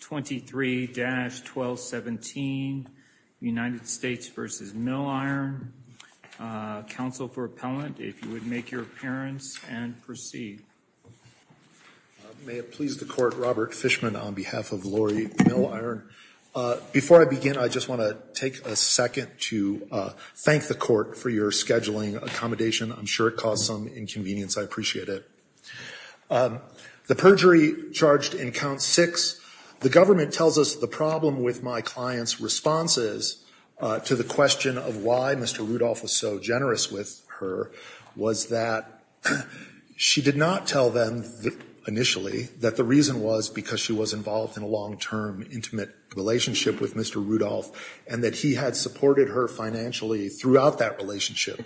23-1217 United States v. Milliron. Counsel for appellant, if you would make your appearance and proceed. May it please the court, Robert Fishman on behalf of Lori Milliron. Before I begin, I just want to take a second to thank the court for your scheduling accommodation. I'm sure it caused some inconvenience. I appreciate it. The perjury charged in count six, the government tells us the problem with my client's responses to the question of why Mr. Rudolph was so generous with her was that she did not tell them initially that the reason was because she was involved in a long-term intimate relationship with Mr. Rudolph and that he had supported her financially throughout that relationship.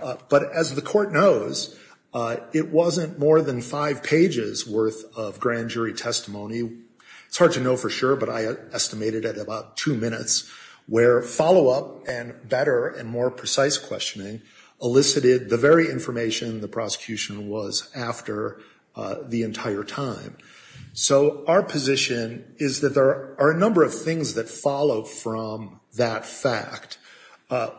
But as the court knows, it wasn't more than five pages worth of grand jury testimony. It's hard to know for sure, but I estimated at about two minutes where follow up and better and more precise questioning elicited the very information the prosecution was after the entire time. So our position is that there are a number of things that follow from that fact.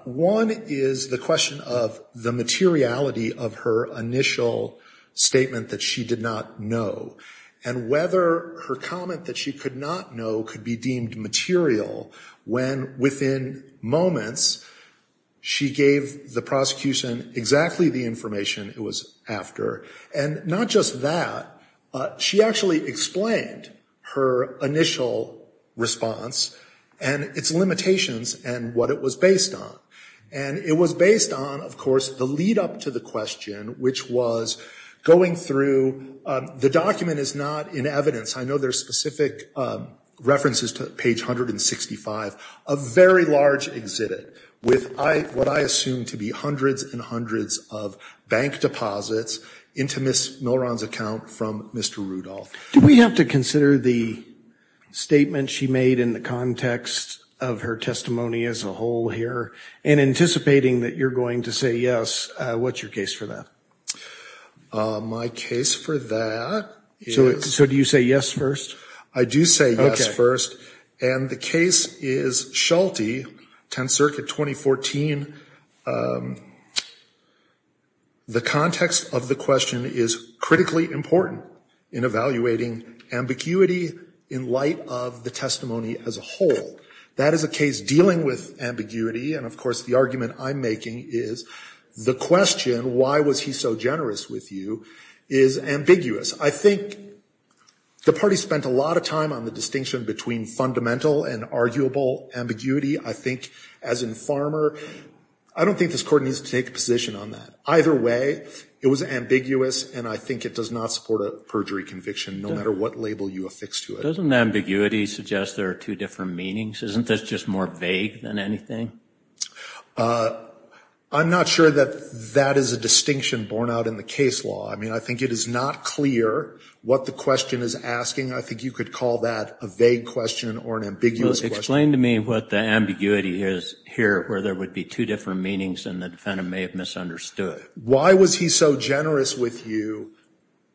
One is the question of the materiality of her initial statement that she did not know. And whether her comment that she could not know could be deemed material when within moments she gave the prosecution exactly the information it was after. And not just that, she actually explained her initial response and its limitations and what it was based on. And it was based on, of course, the lead up to the question, which was going through the document is not in evidence. I know there's specific references to page 165, a very large exhibit with what I assume to be hundreds and hundreds of bank deposits into Ms. Milron's account from Mr. Rudolph. Do we have to consider the statement she made in the context of her testimony as a whole here? And anticipating that you're going to say yes, what's your case for that? My case for that is... So do you say yes first? I do say yes first. And the case is Schulte, 10th Circuit, 2014. The context of the question is critically important in evaluating ambiguity in light of the testimony as a whole. That is a case dealing with ambiguity, and of course the argument I'm making is the question, why was he so generous with you, is ambiguous. I think the party spent a lot of time on the distinction between fundamental and arguable ambiguity. I think, as in Farmer, I don't think this court needs to take a position on that. Either way, it was ambiguous, and I think it does not support a perjury conviction, no matter what label you affix to it. Doesn't ambiguity suggest there are two different meanings? Isn't this just more vague than anything? I'm not sure that that is a distinction borne out in the case law. I mean, I think it is not clear what the question is asking. I think you could call that a vague question or an ambiguous question. Well, explain to me what the ambiguity is here, where there would be two different meanings and the defendant may have misunderstood. Why was he so generous with you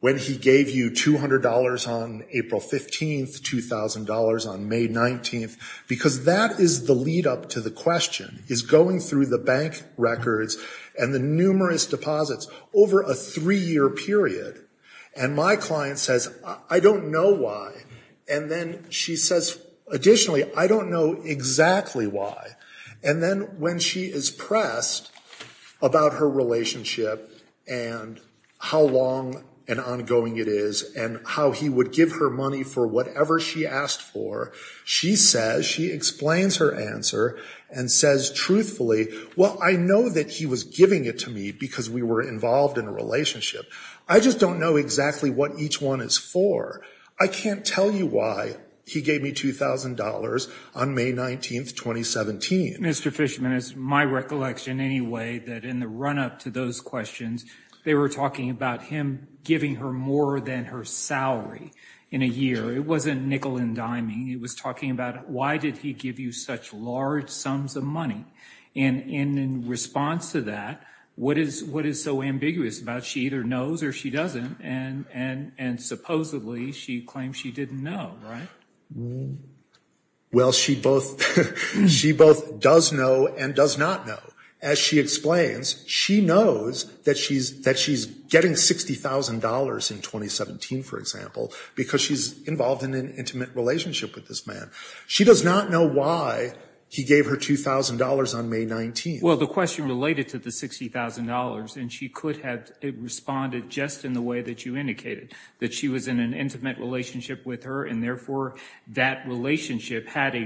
when he gave you $200 on April 15th, $2,000 on May 19th? Because that is the lead-up to the question, is going through the bank records and the numerous deposits over a three-year period, and my client says, I don't know why. And then she says, additionally, I don't know exactly why. And then when she is pressed about her relationship and how long and ongoing it is and how he would give her money for whatever she asked for, she says, she explains her answer and says truthfully, well, I know that he was giving it to me because we were involved in a relationship. I just don't know exactly what each one is for. I can't tell you why he gave me $2,000 on May 19th, 2017. Mr. Fishman, it's my recollection anyway that in the run-up to those questions, they were talking about him giving her more than her salary in a year. It wasn't nickel and diming. It was talking about why did he give you such large sums of money? And in response to that, what is what is so ambiguous about she either knows or she doesn't? And and and supposedly she claims she didn't know, right? Well, she both she both does know and does not know. As she explains, she knows that she's that she's getting $60,000 in 2017, for example, because she's involved in an intimate relationship with this man. She does not know why he gave her $2,000 on May 19th. Well, the question related to the $60,000 and she could have responded just in the way that you indicated that she was in an intimate relationship with her. And therefore, that relationship had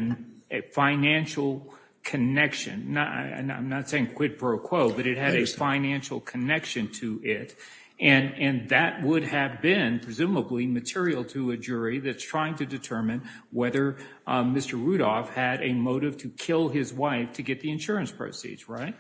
a financial connection. And I'm not saying quid pro quo, but it had a financial connection to it. And and that would have been presumably material to a jury that's trying to determine whether Mr. Rudolph had a motive to kill his wife to get the insurance proceeds. Right.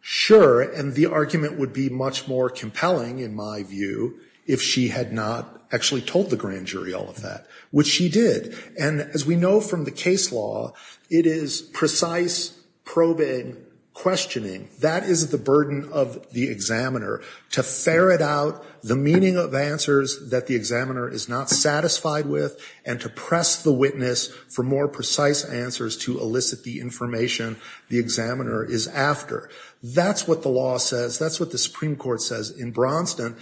Sure. And the argument would be much more compelling, in my view, if she had not actually told the grand jury all of that, which she did. And as we know from the case law, it is precise probing questioning. That is the burden of the examiner to ferret out the meaning of answers that the examiner is not satisfied with and to press the witness for more precise answers to elicit the information the examiner is after. That's what the law says. That's what the Supreme Court says in Braunston.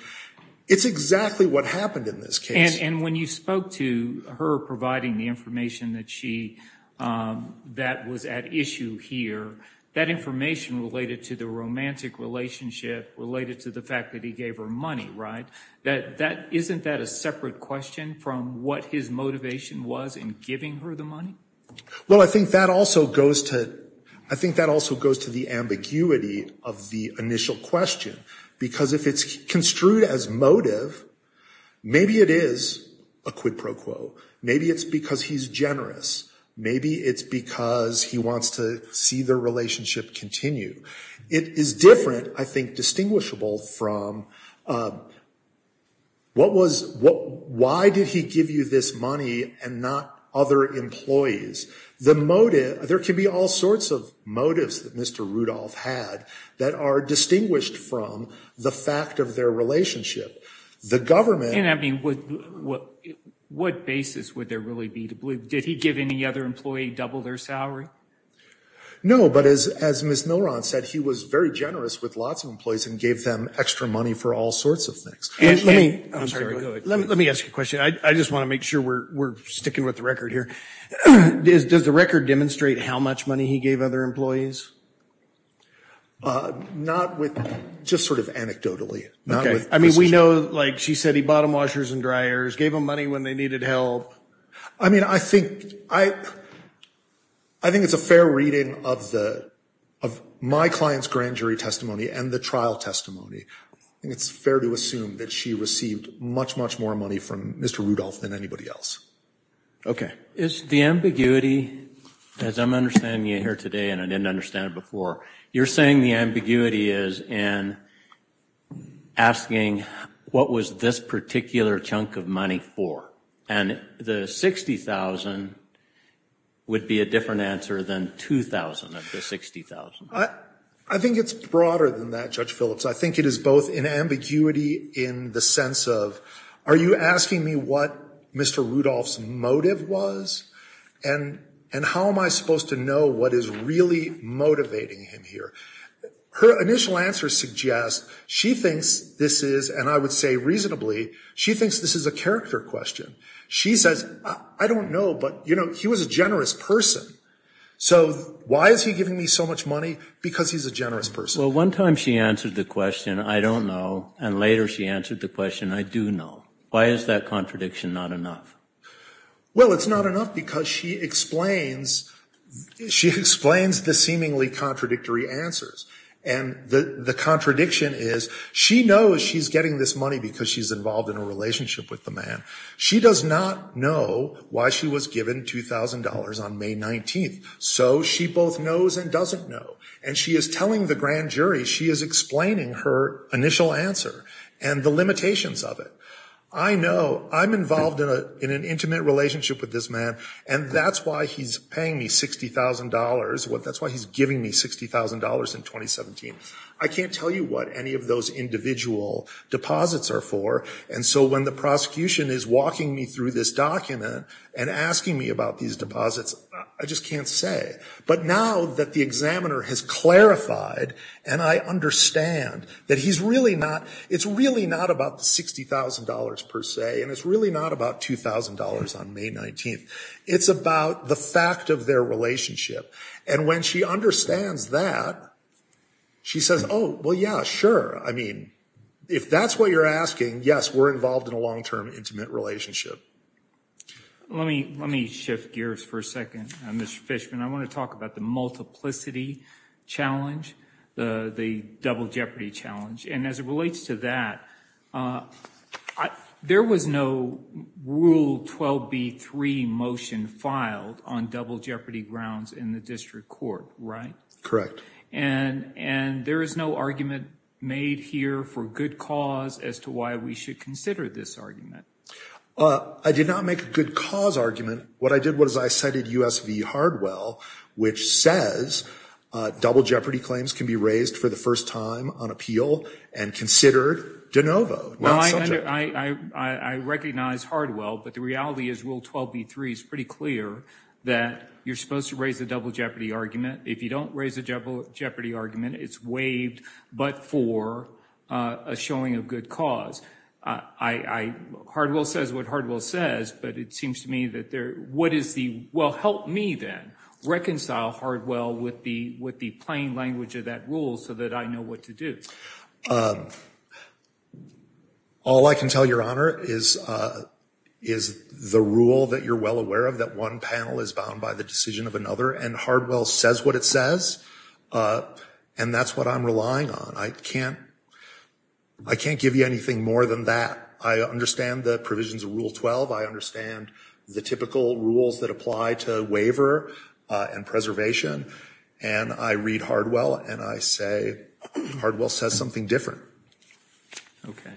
It's exactly what happened in this case. And when you spoke to her providing the information that she that was at issue here, that information related to the romantic relationship related to the fact that he gave her money. Right. That that isn't that a separate question from what his motivation was in giving her the money? Well, I think that also goes to I think that also goes to the ambiguity of the initial question, because if it's construed as motive, maybe it is a quid pro quo. Maybe it's because he's generous. Maybe it's because he wants to see the relationship continue. It is different, I think, distinguishable from what was what. Why did he give you this money and not other employees? The motive. There can be all sorts of motives that Mr. Rudolph had that are distinguished from the fact of their relationship. The government. And I mean, what what basis would there really be to believe? Did he give any other employee double their salary? No. But as as Miss Milron said, he was very generous with lots of employees and gave them extra money for all sorts of things. Let me let me ask you a question. I just want to make sure we're we're sticking with the record here. Does the record demonstrate how much money he gave other employees? Not with just sort of anecdotally. I mean, we know, like she said, he bottom washers and dryers gave him money when they needed help. I mean, I think I I think it's a fair reading of the of my client's grand jury testimony and the trial testimony. And it's fair to assume that she received much, much more money from Mr. Rudolph than anybody else. OK, is the ambiguity as I'm understanding it here today and I didn't understand it before. You're saying the ambiguity is and asking what was this particular chunk of money for? And the 60000 would be a different answer than 2000 of the 60000. I think it's broader than that, Judge Phillips. I think it is both in ambiguity in the sense of are you asking me what Mr. Rudolph's motive was and and how am I supposed to know what is really motivating him here? Her initial answer suggests she thinks this is and I would say reasonably she thinks this is a character question. She says, I don't know. But, you know, he was a generous person. So why is he giving me so much money? Because he's a generous person. Well, one time she answered the question. I don't know. And later she answered the question. I do know. Why is that contradiction not enough? Well, it's not enough because she explains she explains the seemingly contradictory answers. And the contradiction is she knows she's getting this money because she's involved in a relationship with the man. She does not know why she was given two thousand dollars on May 19th. So she both knows and doesn't know. And she is telling the grand jury she is explaining her initial answer and the limitations of it. I know I'm involved in an intimate relationship with this man. And that's why he's paying me sixty thousand dollars. Well, that's why he's giving me sixty thousand dollars in 2017. I can't tell you what any of those individual deposits are for. And so when the prosecution is walking me through this document and asking me about these deposits, I just can't say. But now that the examiner has clarified and I understand that he's really not it's really not about sixty thousand dollars per se. And it's really not about two thousand dollars on May 19th. It's about the fact of their relationship. And when she understands that, she says, oh, well, yeah, sure. I mean, if that's what you're asking, yes, we're involved in a long term intimate relationship. Let me let me shift gears for a second. Mr. Fishman, I want to talk about the multiplicity challenge, the double jeopardy challenge. And as it relates to that, there was no rule 12B3 motion filed on double jeopardy grounds in the district court. Right? Correct. And and there is no argument made here for good cause as to why we should consider this argument. I did not make a good cause argument. What I did was I cited U.S.V. Hardwell, which says double jeopardy claims can be raised for the first time on appeal and considered de novo. I recognize Hardwell, but the reality is rule 12B3 is pretty clear that you're supposed to raise a double jeopardy argument. If you don't raise a double jeopardy argument, it's waived. But for a showing of good cause, I Hardwell says what Hardwell says, but it seems to me that there what is the. Well, help me then reconcile Hardwell with the with the plain language of that rule so that I know what to do. All I can tell your honor is is the rule that you're well aware of, that one panel is bound by the decision of another. And Hardwell says what it says. And that's what I'm relying on. I can't I can't give you anything more than that. I understand the provisions of Rule 12. I understand the typical rules that apply to waiver and preservation. And I read Hardwell and I say Hardwell says something different. OK,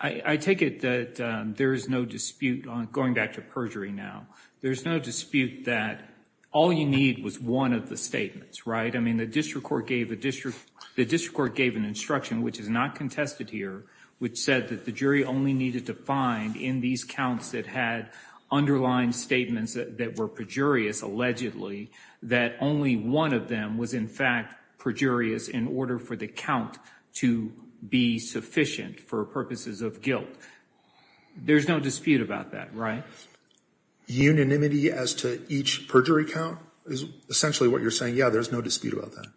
I take it that there is no dispute on going back to perjury now. There's no dispute that all you need was one of the statements. Right. I mean, the district court gave the district the district court gave an instruction which is not contested here, which said that the jury only needed to find in these counts that had underlying statements that were perjurious, allegedly that only one of them was, in fact, perjurious in order for the count to be sufficient for purposes of guilt. There's no dispute about that. Right. Unanimity as to each perjury count is essentially what you're saying. Yeah, there's no dispute about that.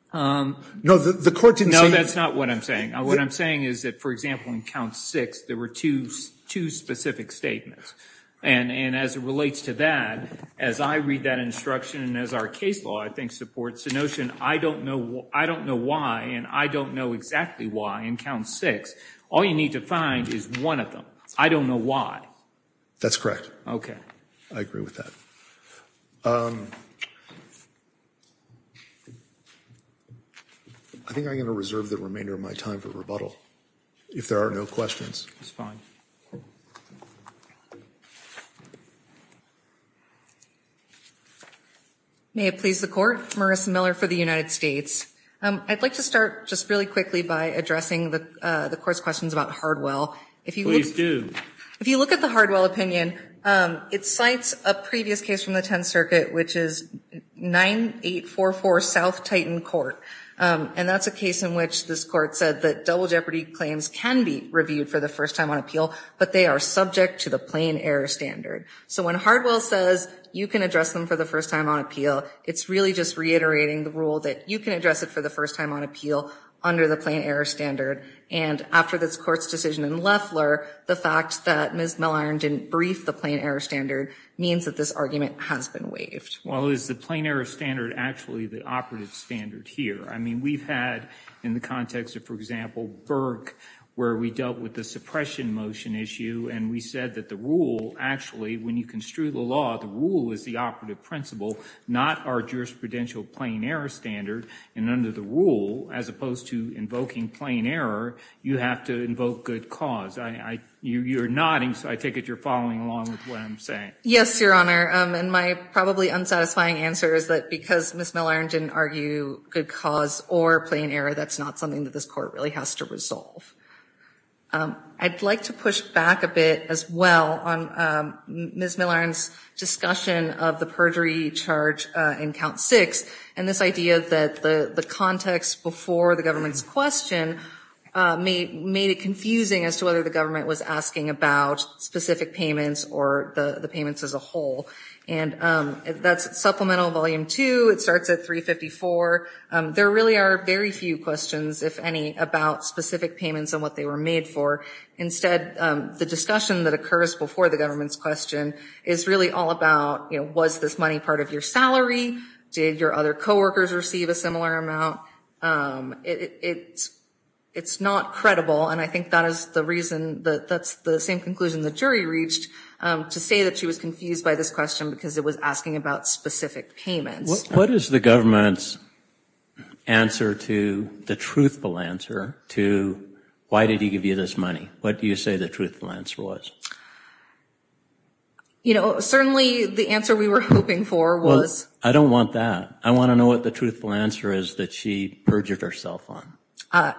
No, the court didn't know. That's not what I'm saying. What I'm saying is that, for example, in count six, there were two, two specific statements. And as it relates to that, as I read that instruction and as our case law, I think supports the notion. I don't know. I don't know why. And I don't know exactly why in count six. All you need to find is one of them. I don't know why. That's correct. OK, I agree with that. I think I'm going to reserve the remainder of my time for rebuttal. If there are no questions, it's fine. May it please the court. Marissa Miller for the United States. I'd like to start just really quickly by addressing the court's questions about Hardwell. If you do, if you look at the Hardwell opinion, it cites a previous case from the 10th Circuit, which is 9844 South Titan Court. And that's a case in which this court said that double jeopardy claims can be reviewed for the first time on appeal. But they are subject to the plain error standard. So when Hardwell says you can address them for the first time on appeal, it's really just reiterating the rule that you can address it for the first time on appeal under the plain error standard. And after this court's decision in Leffler, the fact that Ms. Miller didn't brief the plain error standard means that this argument has been waived. Well, is the plain error standard actually the operative standard here? I mean, we've had in the context of, for example, Burke, where we dealt with the suppression motion issue. And we said that the rule actually, when you construe the law, the rule is the operative principle, not our jurisprudential plain error standard. And under the rule, as opposed to invoking plain error, you have to invoke good cause. You're nodding, so I take it you're following along with what I'm saying. Yes, Your Honor. And my probably unsatisfying answer is that because Ms. Miller didn't argue good cause or plain error, that's not something that this court really has to resolve. I'd like to push back a bit as well on Ms. Miller's discussion of the perjury charge in Count 6 and this idea that the context before the government's question made it confusing as to whether the government was asking about specific payments or the payments as a whole. And that's Supplemental Volume 2. It starts at 354. There really are very few questions, if any, about specific payments and what they were made for. Instead, the discussion that occurs before the government's question is really all about, you know, did your other co-workers receive a similar amount? It's not credible, and I think that is the reason that that's the same conclusion the jury reached to say that she was confused by this question because it was asking about specific payments. What is the government's answer to the truthful answer to, why did he give you this money? What do you say the truthful answer was? You know, certainly the answer we were hoping for was I don't want that. I want to know what the truthful answer is that she perjured herself on.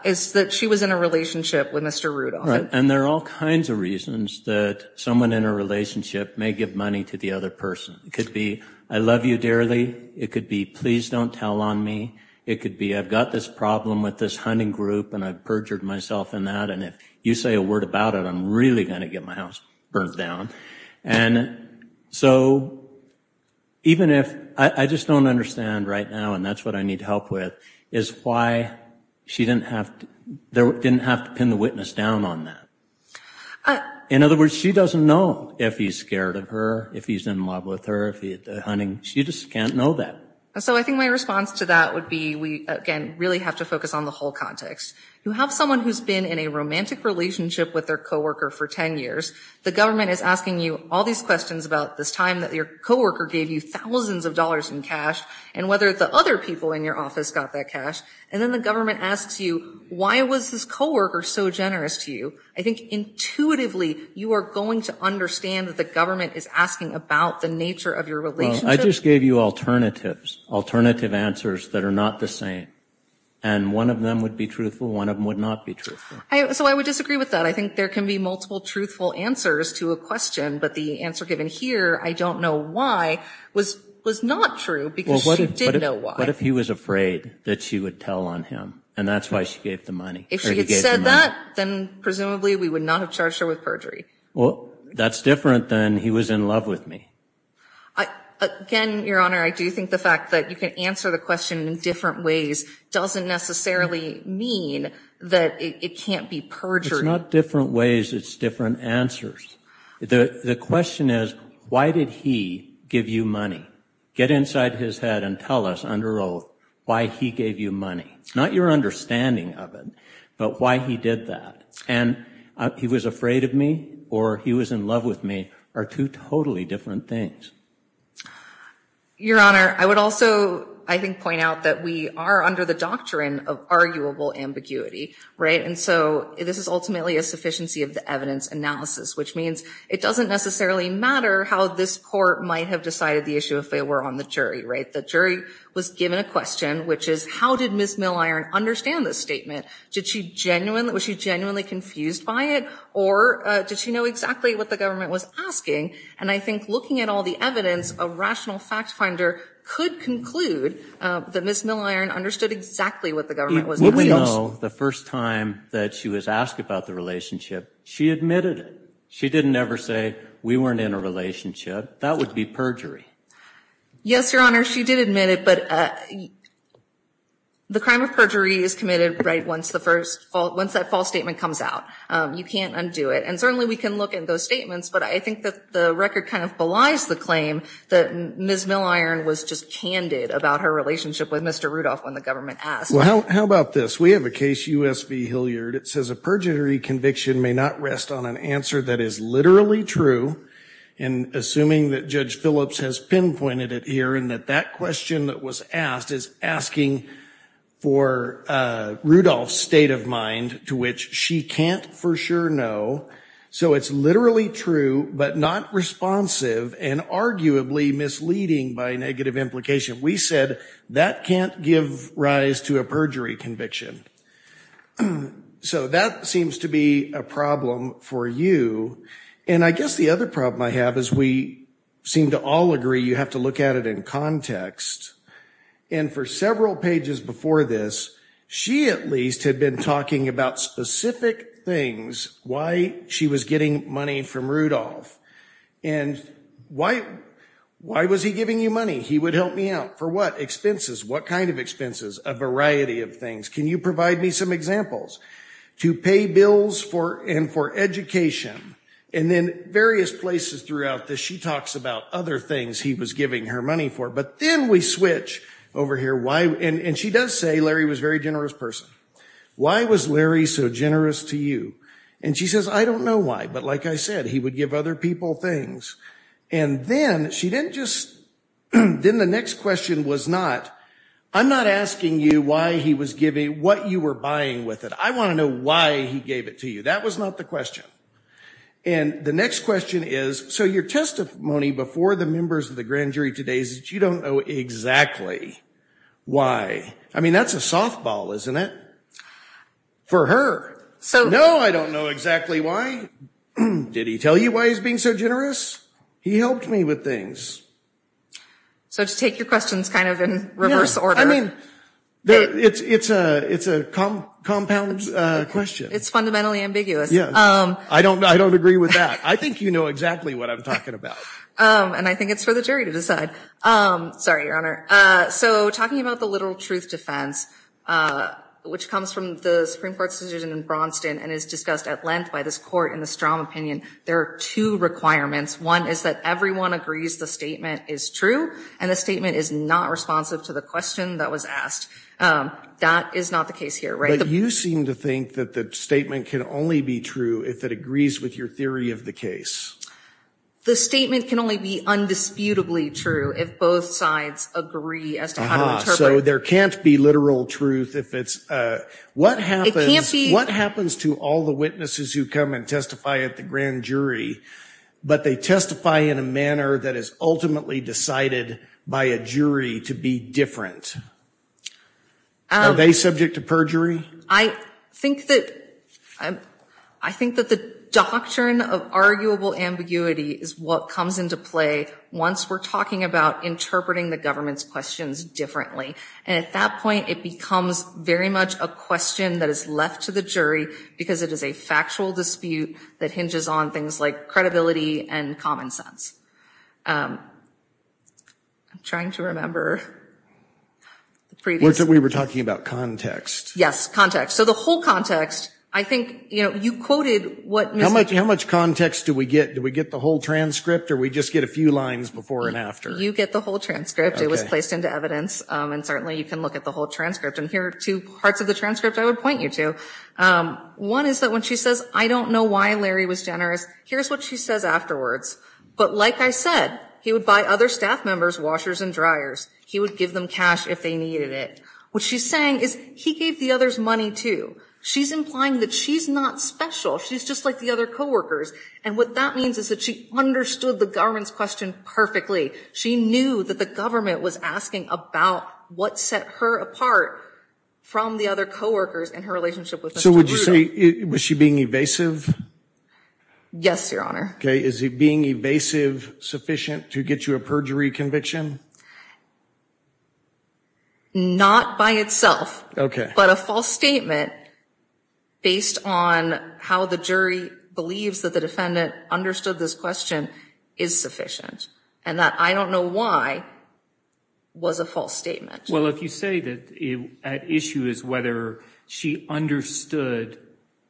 It's that she was in a relationship with Mr. Rudolph. And there are all kinds of reasons that someone in a relationship may give money to the other person. It could be, I love you dearly. It could be, please don't tell on me. It could be, I've got this problem with this hunting group and I've perjured myself in that and if you say a word about it, I'm really going to get my house burnt down. And so even if, I just don't understand right now and that's what I need help with, is why she didn't have to pin the witness down on that. In other words, she doesn't know if he's scared of her, if he's in love with her, if he's hunting. She just can't know that. So I think my response to that would be, we again really have to focus on the whole context. You have someone who's been in a romantic relationship with their co-worker for 10 years. The government is asking you all these questions about this time that your co-worker gave you thousands of dollars in cash and whether the other people in your office got that cash. And then the government asks you, why was this co-worker so generous to you? I think intuitively you are going to understand that the government is asking about the nature of your relationship. Well, I just gave you alternatives, alternative answers that are not the same. And one of them would be truthful, one of them would not be truthful. So I would disagree with that. I think there can be multiple truthful answers to a question. But the answer given here, I don't know why, was not true because she did know why. What if he was afraid that she would tell on him and that's why she gave the money? If she had said that, then presumably we would not have charged her with perjury. Well, that's different than he was in love with me. Again, Your Honor, I do think the fact that you can answer the question in different ways doesn't necessarily mean that it can't be perjury. It's not different ways, it's different answers. The question is, why did he give you money? Get inside his head and tell us under oath why he gave you money. Not your understanding of it, but why he did that. And he was afraid of me or he was in love with me are two totally different things. Your Honor, I would also, I think, point out that we are under the doctrine of arguable ambiguity. And so this is ultimately a sufficiency of the evidence analysis, which means it doesn't necessarily matter how this court might have decided the issue if they were on the jury. The jury was given a question, which is, how did Ms. Milliron understand this statement? Was she genuinely confused by it? Or did she know exactly what the government was asking? And I think looking at all the evidence, a rational fact finder could conclude that Ms. Milliron understood exactly what the government was asking. Would we know the first time that she was asked about the relationship, she admitted it? She didn't ever say, we weren't in a relationship. That would be perjury. Yes, Your Honor, she did admit it, but the crime of perjury is committed right once that false statement comes out. You can't undo it. And certainly we can look at those statements, but I think that the record kind of belies the claim that Ms. Milliron was just candid about her relationship with Mr. Rudolph when the government asked. Well, how about this? We have a case, U.S. v. Hilliard. It says a perjury conviction may not rest on an answer that is literally true, and assuming that Judge Phillips has pinpointed it here, and that that question that was asked is asking for Rudolph's state of mind to which she can't for sure know, so it's literally true but not responsive and arguably misleading by negative implication. We said that can't give rise to a perjury conviction. So that seems to be a problem for you. And I guess the other problem I have is we seem to all agree you have to look at it in context, and for several pages before this, she at least had been talking about specific things, why she was getting money from Rudolph, and why was he giving you money? He would help me out. For what? Expenses. What kind of expenses? A variety of things. Can you provide me some examples? To pay bills and for education, and then various places throughout this, she talks about other things he was giving her money for, but then we switch over here. And she does say Larry was a very generous person. Why was Larry so generous to you? And she says, I don't know why, but like I said, he would give other people things. And then she didn't just, then the next question was not, I'm not asking you why he was giving, what you were buying with it. I want to know why he gave it to you. That was not the question. And the next question is, so your testimony before the members of the grand jury today is that you don't know exactly why. I mean, that's a softball, isn't it? For her. No, I don't know exactly why. Did he tell you why he was being so generous? He helped me with things. So to take your questions kind of in reverse order. I mean, it's a compound question. It's fundamentally ambiguous. I don't agree with that. I think you know exactly what I'm talking about. And I think it's for the jury to decide. Sorry, Your Honor. So talking about the literal truth defense, which comes from the Supreme Court's decision in Braunston and is discussed at length by this court in the strong opinion, there are two requirements. One is that everyone agrees the statement is true, and the statement is not responsive to the question that was asked. That is not the case here. But you seem to think that the statement can only be true if it agrees with your theory of the case. The statement can only be undisputably true if both sides agree as to how to interpret it. So there can't be literal truth. What happens to all the witnesses who come and testify at the grand jury, but they testify in a manner that is ultimately decided by a jury to be different? Are they subject to perjury? I think that the doctrine of arguable ambiguity is what comes into play once we're talking about interpreting the government's questions differently. And at that point, it becomes very much a question that is left to the jury because it is a factual dispute that hinges on things like credibility and common sense. I'm trying to remember. We were talking about context. Yes, context. So the whole context, I think, you know, you quoted what Mr. How much context do we get? Do we get the whole transcript, or do we just get a few lines before and after? You get the whole transcript. It was placed into evidence, and certainly you can look at the whole transcript. And here are two parts of the transcript I would point you to. One is that when she says, I don't know why Larry was generous, here's what she says afterwards. But like I said, he would buy other staff members washers and dryers. He would give them cash if they needed it. What she's saying is he gave the others money too. She's implying that she's not special. She's just like the other coworkers. And what that means is that she understood the government's question perfectly. She knew that the government was asking about what set her apart from the other coworkers in her relationship with Mr. So would you say, was she being evasive? Yes, Your Honor. Okay. Is being evasive sufficient to get you a perjury conviction? Not by itself. Okay. But a false statement based on how the jury believes that the defendant understood this question is sufficient. And that I don't know why was a false statement. Well, if you say that at issue is whether she understood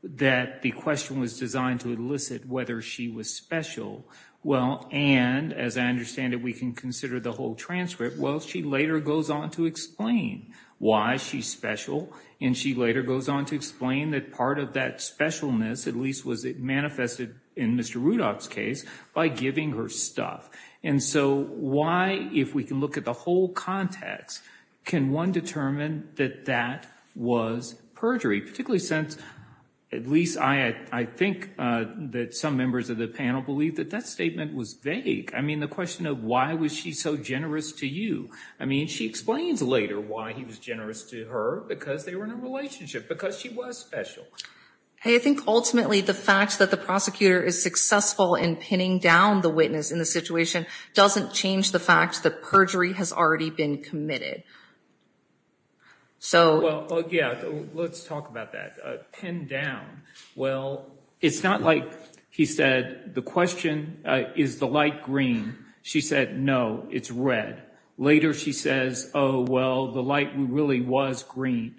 that the question was designed to elicit whether she was special. Well, and as I understand it, we can consider the whole transcript. Well, she later goes on to explain why she's special. And she later goes on to explain that part of that specialness, at least was it manifested in Mr. Rudolph's case, by giving her stuff. And so why, if we can look at the whole context, can one determine that that was perjury? Particularly since, at least I think that some members of the panel believe that that statement was vague. I mean, the question of why was she so generous to you? I mean, she explains later why he was generous to her. Because they were in a relationship. Because she was special. I think ultimately the fact that the prosecutor is successful in pinning down the witness in the situation doesn't change the fact that perjury has already been committed. So. Well, yeah. Let's talk about that. Pin down. Well, it's not like he said the question is the light green. She said, no, it's red. Later she says, oh, well, the light really was green.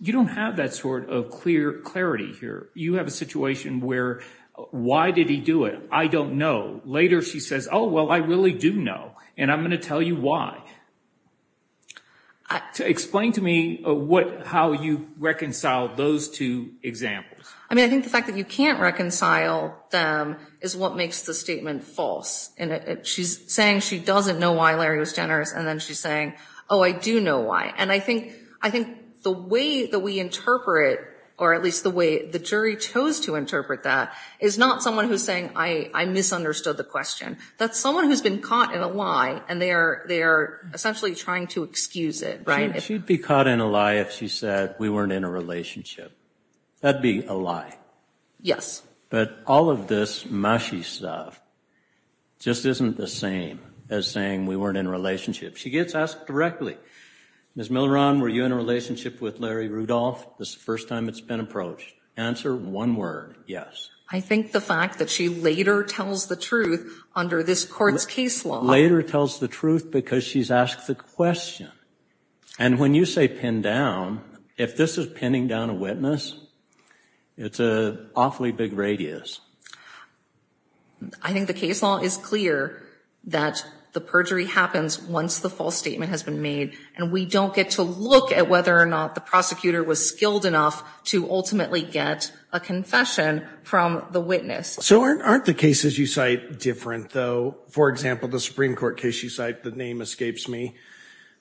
You don't have that sort of clear clarity here. You have a situation where why did he do it? I don't know. Later she says, oh, well, I really do know. And I'm going to tell you why. Explain to me how you reconcile those two examples. I mean, I think the fact that you can't reconcile them is what makes the statement false. She's saying she doesn't know why Larry was generous, and then she's saying, oh, I do know why. And I think the way that we interpret, or at least the way the jury chose to interpret that, is not someone who's saying I misunderstood the question. That's someone who's been caught in a lie, and they are essentially trying to excuse it. She'd be caught in a lie if she said we weren't in a relationship. That would be a lie. Yes. But all of this mushy stuff just isn't the same as saying we weren't in a relationship. She gets asked directly, Ms. Milleron, were you in a relationship with Larry Rudolph? This is the first time it's been approached. Answer, one word, yes. I think the fact that she later tells the truth under this court's case law. Later tells the truth because she's asked the question. And when you say pin down, if this is pinning down a witness, it's an awfully big radius. I think the case law is clear that the perjury happens once the false statement has been made, and we don't get to look at whether or not the prosecutor was skilled enough to ultimately get a confession from the witness. So aren't the cases you cite different, though? For example, the Supreme Court case you cite, the name escapes me,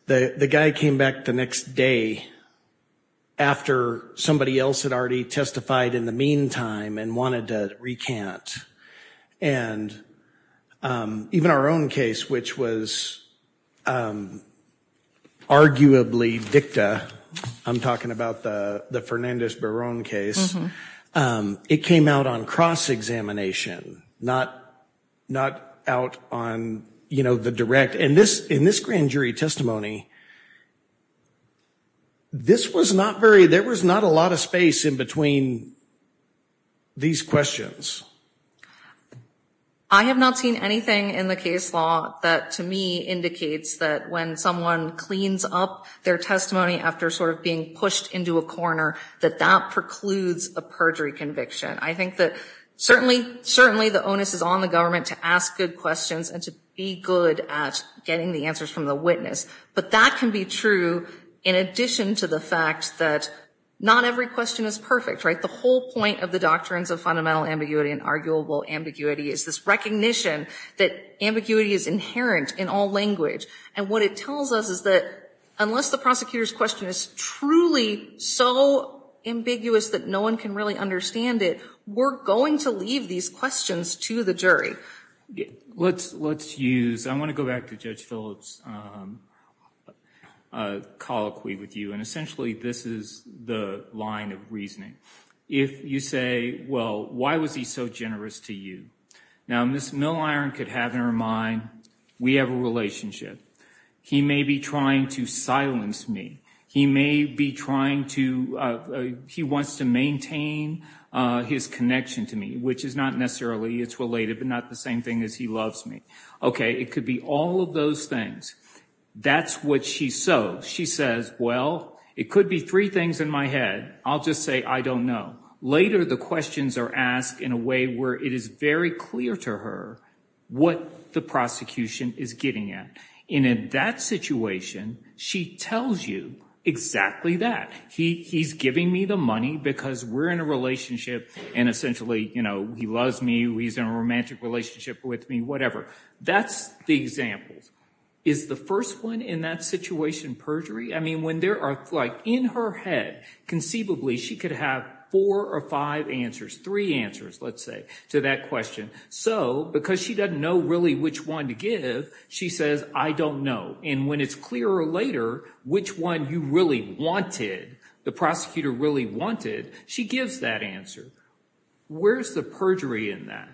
the guy came back the next day after somebody else had already testified in the meantime and wanted to recant. And even our own case, which was arguably dicta, I'm talking about the Fernandez-Baron case, it came out on cross-examination, not out on the direct. In this grand jury testimony, this was not very, there was not a lot of space in between these questions. I have not seen anything in the case law that to me indicates that when someone cleans up their testimony after sort of being pushed into a corner, that that precludes a perjury conviction. I think that certainly the onus is on the government to ask good questions and to be good at getting the answers from the witness. But that can be true in addition to the fact that not every question is perfect, right? The whole point of the doctrines of fundamental ambiguity and arguable ambiguity is this recognition that ambiguity is inherent in all language. And what it tells us is that unless the prosecutor's question is truly so ambiguous that no one can really understand it, we're going to leave these questions to the jury. Let's use, I want to go back to Judge Phillips' colloquy with you, and essentially this is the line of reasoning. If you say, well, why was he so generous to you? Now, Ms. Milliron could have in her mind, we have a relationship. He may be trying to silence me. He may be trying to, he wants to maintain his connection to me, which is not necessarily, it's related but not the same thing as he loves me. Okay, it could be all of those things. That's what she says. She says, well, it could be three things in my head. I'll just say I don't know. Later the questions are asked in a way where it is very clear to her what the prosecution is getting at. And in that situation, she tells you exactly that. He's giving me the money because we're in a relationship and essentially, you know, he loves me, he's in a romantic relationship with me, whatever. That's the example. Is the first one in that situation perjury? I mean, when there are, like, in her head, conceivably, she could have four or five answers, three answers, let's say, to that question. So because she doesn't know really which one to give, she says, I don't know. And when it's clearer later which one you really wanted, the prosecutor really wanted, she gives that answer. Where's the perjury in that?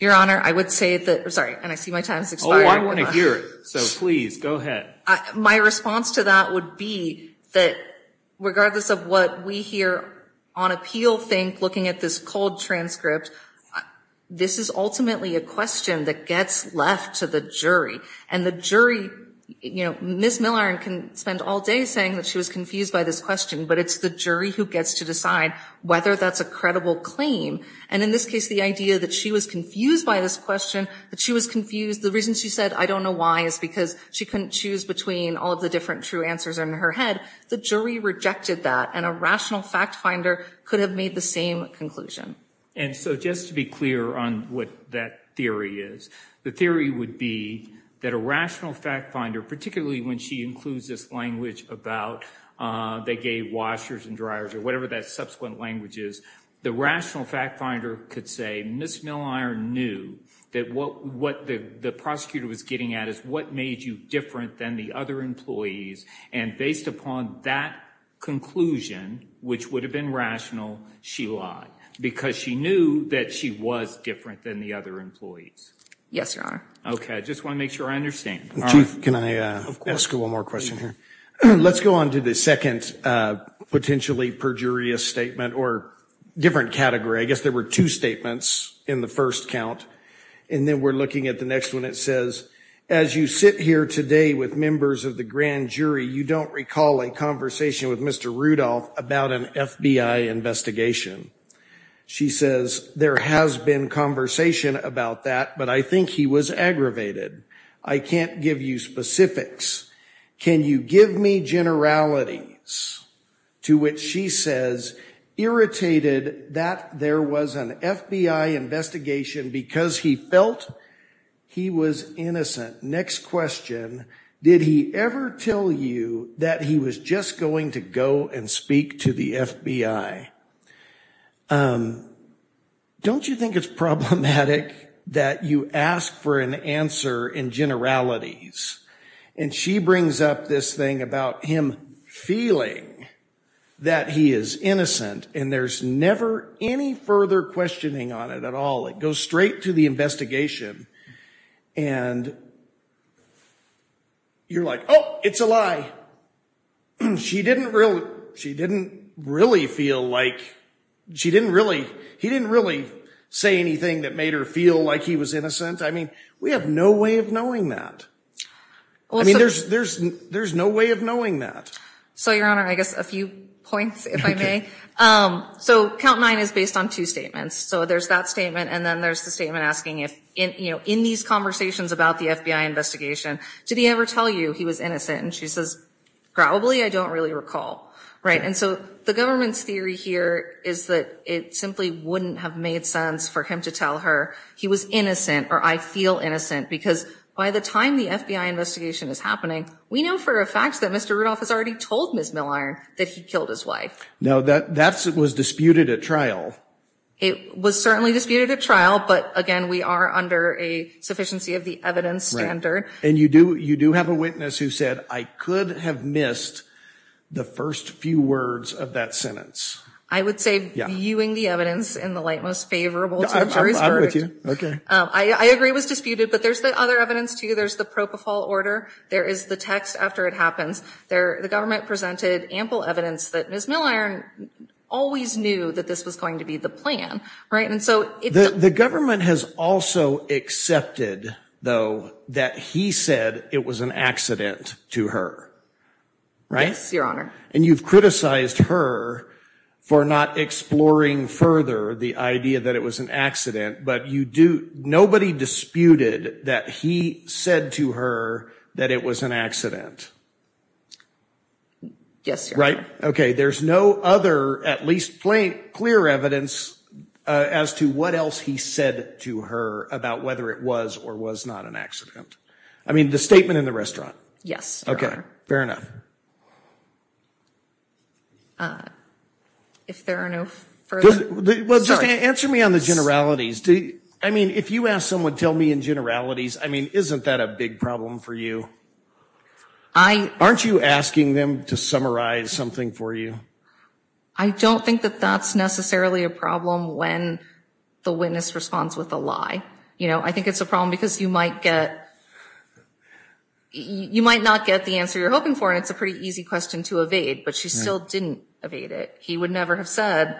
Your Honor, I would say that, sorry, and I see my time has expired. Well, I want to hear it, so please, go ahead. My response to that would be that regardless of what we here on appeal think, looking at this cold transcript, this is ultimately a question that gets left to the jury. And the jury, you know, Ms. Milliron can spend all day saying that she was confused by this question, but it's the jury who gets to decide whether that's a credible claim. And in this case, the idea that she was confused by this question, that she was confused, the reason she said, I don't know why, is because she couldn't choose between all of the different true answers in her head, the jury rejected that, and a rational fact finder could have made the same conclusion. And so just to be clear on what that theory is, the theory would be that a rational fact finder, particularly when she includes this language about they gave washers and dryers or whatever that subsequent language is, the rational fact finder could say Ms. Milliron knew that what the prosecutor was getting at is what made you different than the other employees, and based upon that conclusion, which would have been rational, she lied, because she knew that she was different than the other employees. Yes, Your Honor. Okay, I just want to make sure I understand. Chief, can I ask one more question here? Of course. The second potentially perjurious statement, or different category, I guess there were two statements in the first count, and then we're looking at the next one, it says, as you sit here today with members of the grand jury, you don't recall a conversation with Mr. Rudolph about an FBI investigation. She says, there has been conversation about that, but I think he was aggravated. I can't give you specifics. Can you give me generalities? To which she says, irritated that there was an FBI investigation because he felt he was innocent. Next question, did he ever tell you that he was just going to go and speak to the FBI? Don't you think it's problematic that you ask for an answer in generalities? And she brings up this thing about him feeling that he is innocent, and there's never any further questioning on it at all. It goes straight to the investigation, and you're like, oh, it's a lie. She didn't really, she didn't really feel like, she didn't really, he didn't really say anything that made her feel like he was innocent. I mean, we have no way of knowing that. I mean, there's no way of knowing that. So, Your Honor, I guess a few points, if I may. So count nine is based on two statements. So there's that statement, and then there's the statement asking if, in these conversations about the FBI investigation, did he ever tell you he was innocent? And she says, probably I don't really recall. And so the government's theory here is that it simply wouldn't have made sense for him to tell her he was innocent or I feel innocent, because by the time the FBI investigation is happening, we know for a fact that Mr. Rudolph has already told Ms. Milliron that he killed his wife. Now, that was disputed at trial. It was certainly disputed at trial, but, again, we are under a sufficiency of the evidence standard. And you do have a witness who said, I could have missed the first few words of that sentence. I would say viewing the evidence in the light most favorable to the jury's verdict. Okay. I agree it was disputed, but there's the other evidence, too. There's the propofol order. There is the text after it happens. The government presented ample evidence that Ms. Milliron always knew that this was going to be the plan, right? The government has also accepted, though, that he said it was an accident to her, right? Yes, Your Honor. And you've criticized her for not exploring further the idea that it was an accident, but nobody disputed that he said to her that it was an accident. Yes, Your Honor. Right? Okay. There's no other at least plain clear evidence as to what else he said to her about whether it was or was not an accident. I mean, the statement in the restaurant. Yes, Your Honor. Okay. Fair enough. If there are no further. Well, just answer me on the generalities. I mean, if you ask someone, tell me in generalities, I mean, isn't that a big problem for you? Aren't you asking them to summarize something for you? I don't think that that's necessarily a problem when the witness responds with a lie. You know, I think it's a problem because you might not get the answer you're hoping for, and it's a pretty easy question to evade, but she still didn't evade it. He would never have said,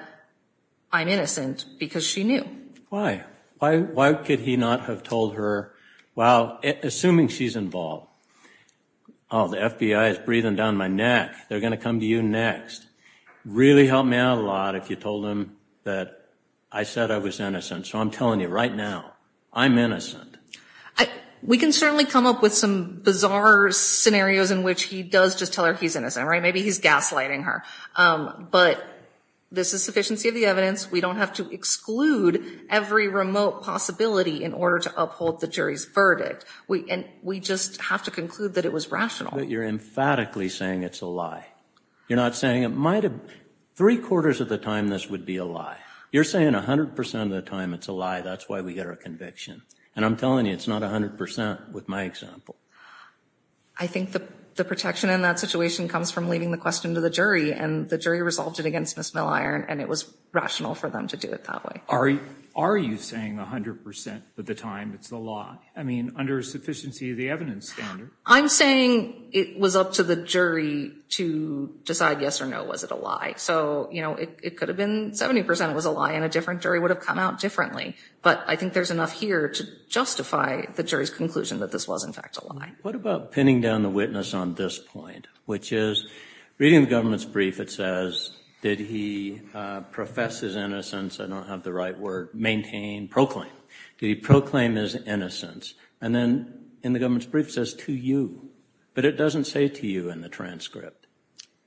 I'm innocent, because she knew. Why? Why could he not have told her, well, assuming she's involved, oh, the FBI is breathing down my neck, they're going to come to you next. It would really help me out a lot if you told them that I said I was innocent. So I'm telling you right now, I'm innocent. We can certainly come up with some bizarre scenarios in which he does just tell her he's innocent, right? Maybe he's gaslighting her. But this is sufficiency of the evidence. We don't have to exclude every remote possibility in order to uphold the jury's verdict. We just have to conclude that it was rational. But you're emphatically saying it's a lie. You're not saying it might have, three-quarters of the time this would be a lie. You're saying 100% of the time it's a lie. That's why we get our conviction. And I'm telling you, it's not 100% with my example. I think the protection in that situation comes from leaving the question to the jury, and the jury resolved it against Ms. Milliron, and it was rational for them to do it that way. Are you saying 100% of the time it's a lie? I mean, under a sufficiency of the evidence standard. I'm saying it was up to the jury to decide yes or no, was it a lie? So, you know, it could have been 70% was a lie, and a different jury would have come out differently. But I think there's enough here to justify the jury's conclusion that this was, in fact, a lie. What about pinning down the witness on this point, which is reading the government's brief, it says did he profess his innocence, I don't have the right word, maintain, proclaim. Did he proclaim his innocence? And then in the government's brief it says to you, but it doesn't say to you in the transcript.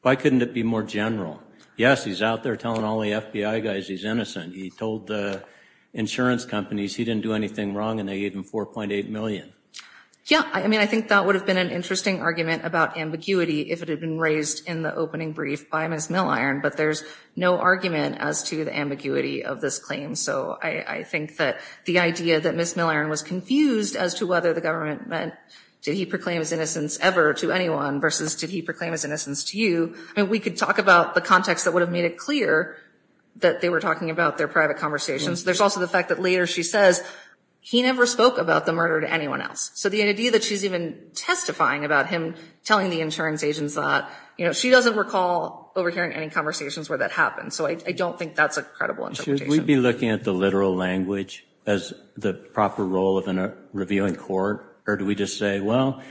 Why couldn't it be more general? Yes, he's out there telling all the FBI guys he's innocent. He told the insurance companies he didn't do anything wrong, and they gave him $4.8 million. Yeah, I mean, I think that would have been an interesting argument about ambiguity if it had been raised in the opening brief by Ms. Milliron, but there's no argument as to the ambiguity of this claim. So I think that the idea that Ms. Milliron was confused as to whether the government meant did he proclaim his innocence ever to anyone versus did he proclaim his innocence to you, I mean, we could talk about the context that would have made it clear that they were talking about their private conversations. There's also the fact that later she says he never spoke about the murder to anyone else. So the idea that she's even testifying about him telling the insurance agents that, you know, she doesn't recall overhearing any conversations where that happened. So I don't think that's a credible interpretation. Should we be looking at the literal language as the proper role of a reviewing court? Or do we just say, well,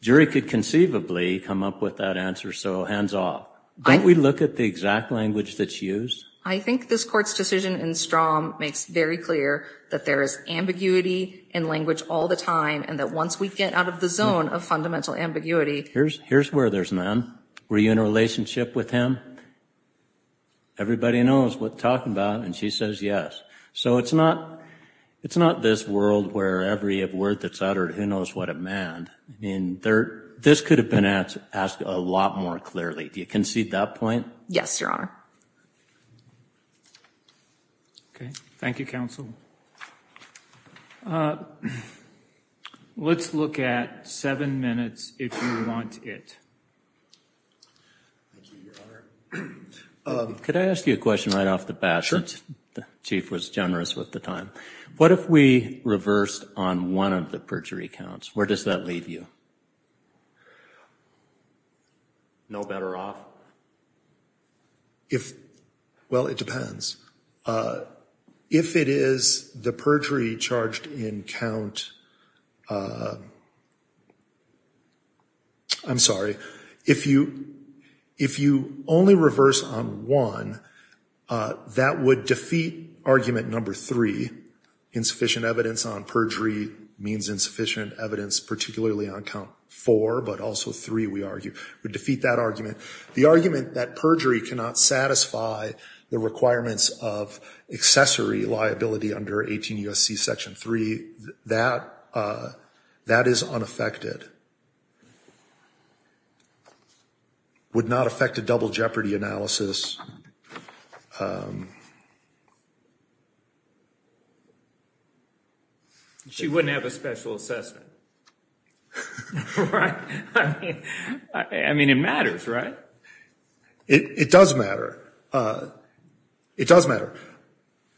jury could conceivably come up with that answer, so hands off. Don't we look at the exact language that's used? I think this court's decision in Strom makes very clear that there is ambiguity in language all the time and that once we get out of the zone of fundamental ambiguity— Here's where there's none. Were you in a relationship with him? Everybody knows what they're talking about, and she says yes. So it's not this world where every word that's uttered, who knows what it meant. I mean, this could have been asked a lot more clearly. Do you concede that point? Yes, Your Honor. Okay. Thank you, counsel. Let's look at seven minutes, if you want it. Thank you, Your Honor. Could I ask you a question right off the bat? The chief was generous with the time. What if we reversed on one of the perjury counts? Where does that leave you? No better off? Well, it depends. If it is the perjury charged in count... I'm sorry. If you only reverse on one, that would defeat argument number three. Insufficient evidence on perjury means insufficient evidence, particularly on count four, but also three, we argue, would defeat that argument. The argument that perjury cannot satisfy the requirements of accessory liability under 18 U.S.C. Section 3, that is unaffected. Would not affect a double jeopardy analysis. She wouldn't have a special assessment. Right. I mean, it matters, right? It does matter. It does matter.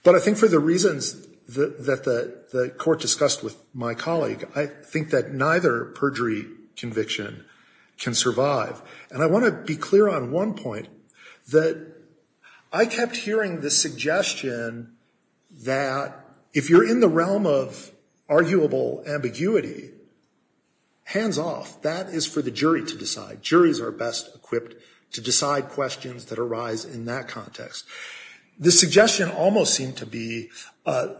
But I think for the reasons that the court discussed with my colleague, I think that neither perjury conviction can survive. And I want to be clear on one point, that I kept hearing the suggestion that if you're in the realm of arguable ambiguity, hands off. That is for the jury to decide. Juries are best equipped to decide questions that arise in that context. The suggestion almost seemed to be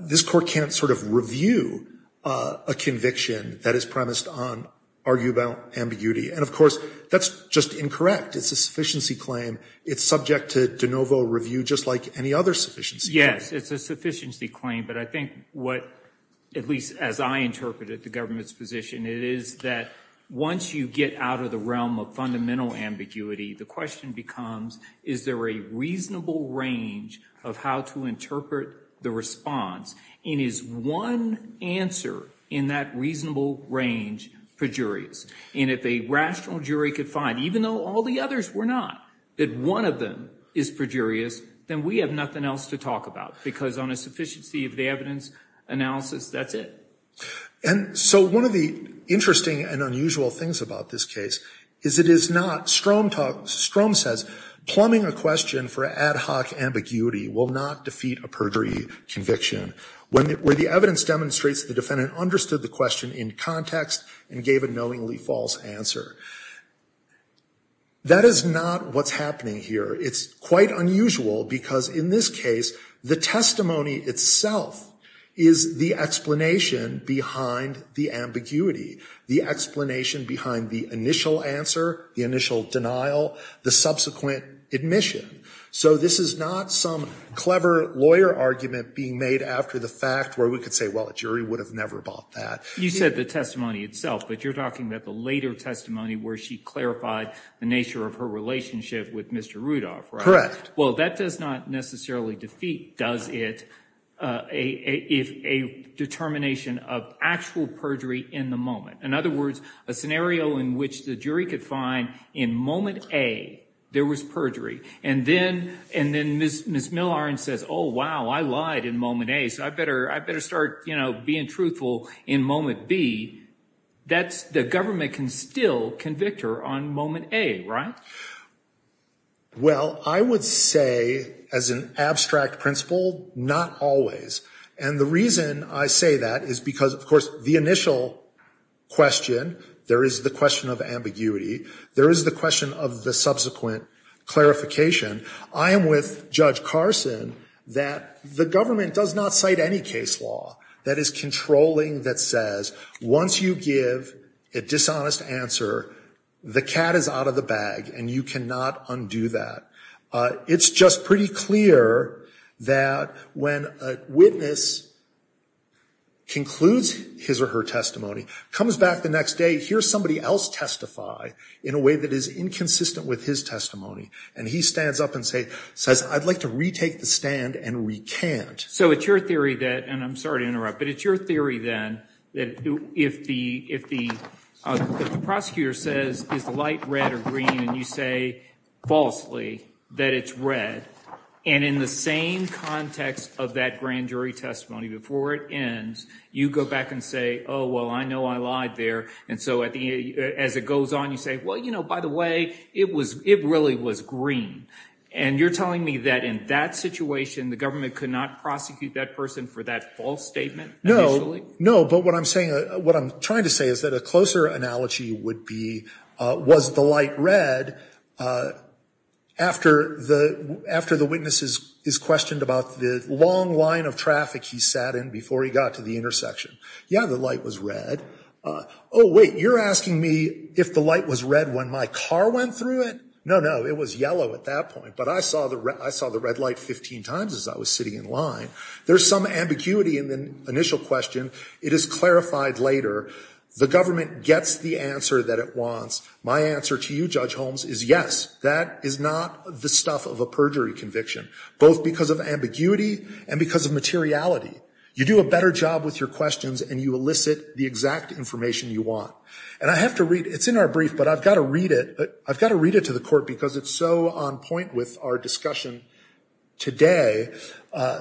this court can't sort of review a conviction that is premised on arguable ambiguity. And, of course, that's just incorrect. It's a sufficiency claim. It's subject to de novo review just like any other sufficiency claim. Yes, it's a sufficiency claim. But I think what, at least as I interpret it, the government's position, it is that once you get out of the realm of fundamental ambiguity, the question becomes is there a reasonable range of how to interpret the response? And is one answer in that reasonable range perjurious? And if a rational jury could find, even though all the others were not, that one of them is perjurious, then we have nothing else to talk about because on a sufficiency of the evidence analysis, that's it. And so one of the interesting and unusual things about this case is it is not, Strom says, plumbing a question for ad hoc ambiguity will not defeat a perjury conviction. Where the evidence demonstrates the defendant understood the question in context and gave a knowingly false answer. That is not what's happening here. It's quite unusual because, in this case, the testimony itself is the explanation behind the ambiguity, the explanation behind the initial answer, the initial denial, the subsequent admission. So this is not some clever lawyer argument being made after the fact where we could say, well, a jury would have never bought that. You said the testimony itself, but you're talking about the later testimony where she clarified the nature of her relationship with Mr. Rudolph, right? Well, that does not necessarily defeat, does it, a determination of actual perjury in the moment. In other words, a scenario in which the jury could find, in moment A, there was perjury. And then Ms. Millard says, oh, wow, I lied in moment A, so I better start being truthful in moment B. The government can still convict her on moment A, right? Well, I would say, as an abstract principle, not always. And the reason I say that is because, of course, the initial question, there is the question of ambiguity, there is the question of the subsequent clarification. I am with Judge Carson that the government does not cite any case law that is controlling that says, once you give a dishonest answer, the cat is out of the bag and you cannot undo that. It's just pretty clear that when a witness concludes his or her testimony, comes back the next day, hears somebody else testify in a way that is inconsistent with his testimony, and he stands up and says, I'd like to retake the stand and recant. So it's your theory that, and I'm sorry to interrupt, but it's your theory then that if the prosecutor says, is the light red or green, and you say falsely that it's red, and in the same context of that grand jury testimony, before it ends, you go back and say, oh, well, I know I lied there. And so as it goes on, you say, well, you know, by the way, it really was green. And you're telling me that in that situation, the government could not prosecute that person for that false statement? No, but what I'm trying to say is that a closer analogy would be, was the light red after the witness is questioned about the long line of traffic he sat in before he got to the intersection? Yeah, the light was red. Oh, wait, you're asking me if the light was red when my car went through it? No, no, it was yellow at that point. But I saw the red light 15 times as I was sitting in line. There's some ambiguity in the initial question. It is clarified later. The government gets the answer that it wants. My answer to you, Judge Holmes, is yes. That is not the stuff of a perjury conviction, both because of ambiguity and because of materiality. You do a better job with your questions, and you elicit the exact information you want. And I have to read, it's in our brief, but I've got to read it. I've got to read it to the court because it's so on point with our discussion today.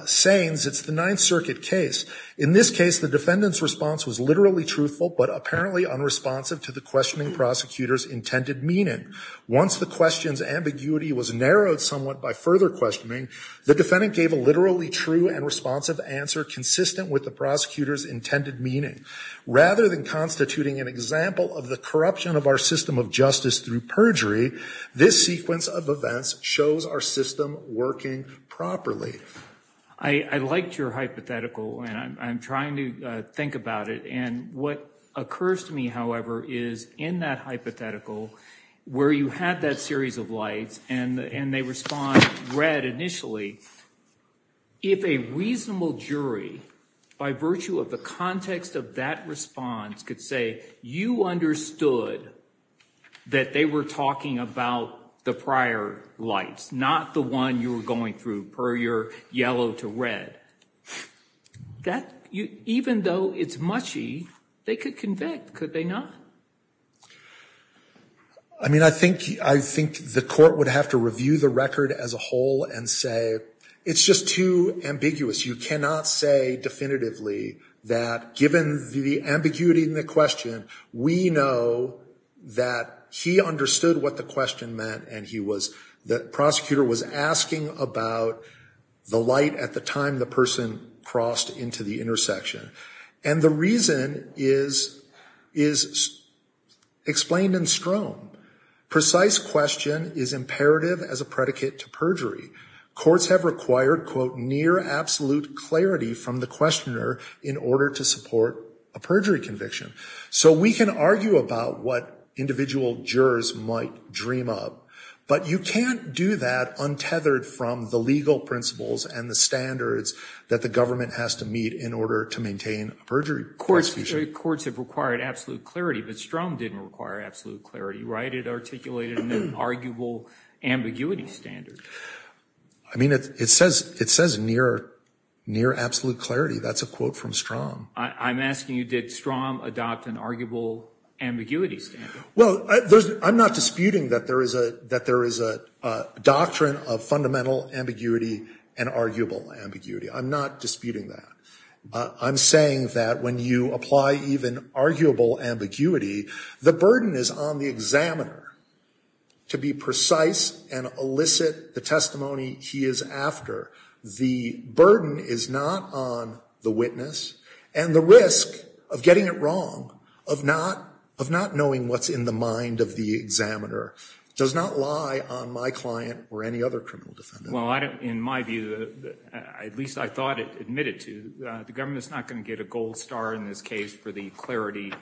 Sayings, it's the Ninth Circuit case. In this case, the defendant's response was literally truthful, but apparently unresponsive to the questioning prosecutor's intended meaning. Once the question's ambiguity was narrowed somewhat by further questioning, the defendant gave a literally true and responsive answer consistent with the prosecutor's intended meaning. Rather than constituting an example of the corruption of our system of justice through perjury, this sequence of events shows our system working properly. I liked your hypothetical, and I'm trying to think about it. And what occurs to me, however, is in that hypothetical, where you have that series of lights and they respond red initially, if a reasonable jury, by virtue of the context of that response, could say you understood that they were talking about the prior lights, not the one you were going through, per your yellow to red, even though it's mushy, they could convict, could they not? I mean, I think the court would have to review the record as a whole and say, it's just too ambiguous. You cannot say definitively that given the ambiguity in the question, we know that he understood what the question meant, and the prosecutor was asking about the light at the time the person crossed into the intersection. And the reason is explained in Strome. Precise question is imperative as a predicate to perjury. Courts have required, quote, near absolute clarity from the questioner in order to support a perjury conviction. So we can argue about what individual jurors might dream up, but you can't do that untethered from the legal principles and the standards that the government has to meet in order to maintain a perjury prosecution. Courts have required absolute clarity, but Strome didn't require absolute clarity, right? It articulated an arguable ambiguity standard. I mean, it says near absolute clarity. That's a quote from Strome. I'm asking you, did Strome adopt an arguable ambiguity standard? Well, I'm not disputing that there is a doctrine of fundamental ambiguity and arguable ambiguity. I'm not disputing that. I'm saying that when you apply even arguable ambiguity, the burden is on the examiner to be precise and elicit the testimony he is after. The burden is not on the witness and the risk of getting it wrong, of not knowing what's in the mind of the examiner, does not lie on my client or any other criminal defendant. Well, in my view, at least I thought it admitted to, the government is not going to get a gold star in this case for the clarity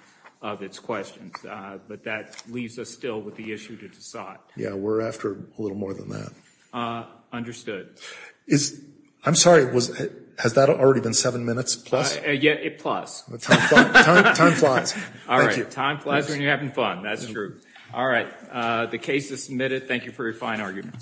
of its questions, but that leaves us still with the issue to decide. Yeah, we're after a little more than that. Understood. I'm sorry, has that already been seven minutes plus? Yeah, plus. Time flies. All right, time flies when you're having fun. That's true. All right, the case is submitted. Thank you for your fine arguments.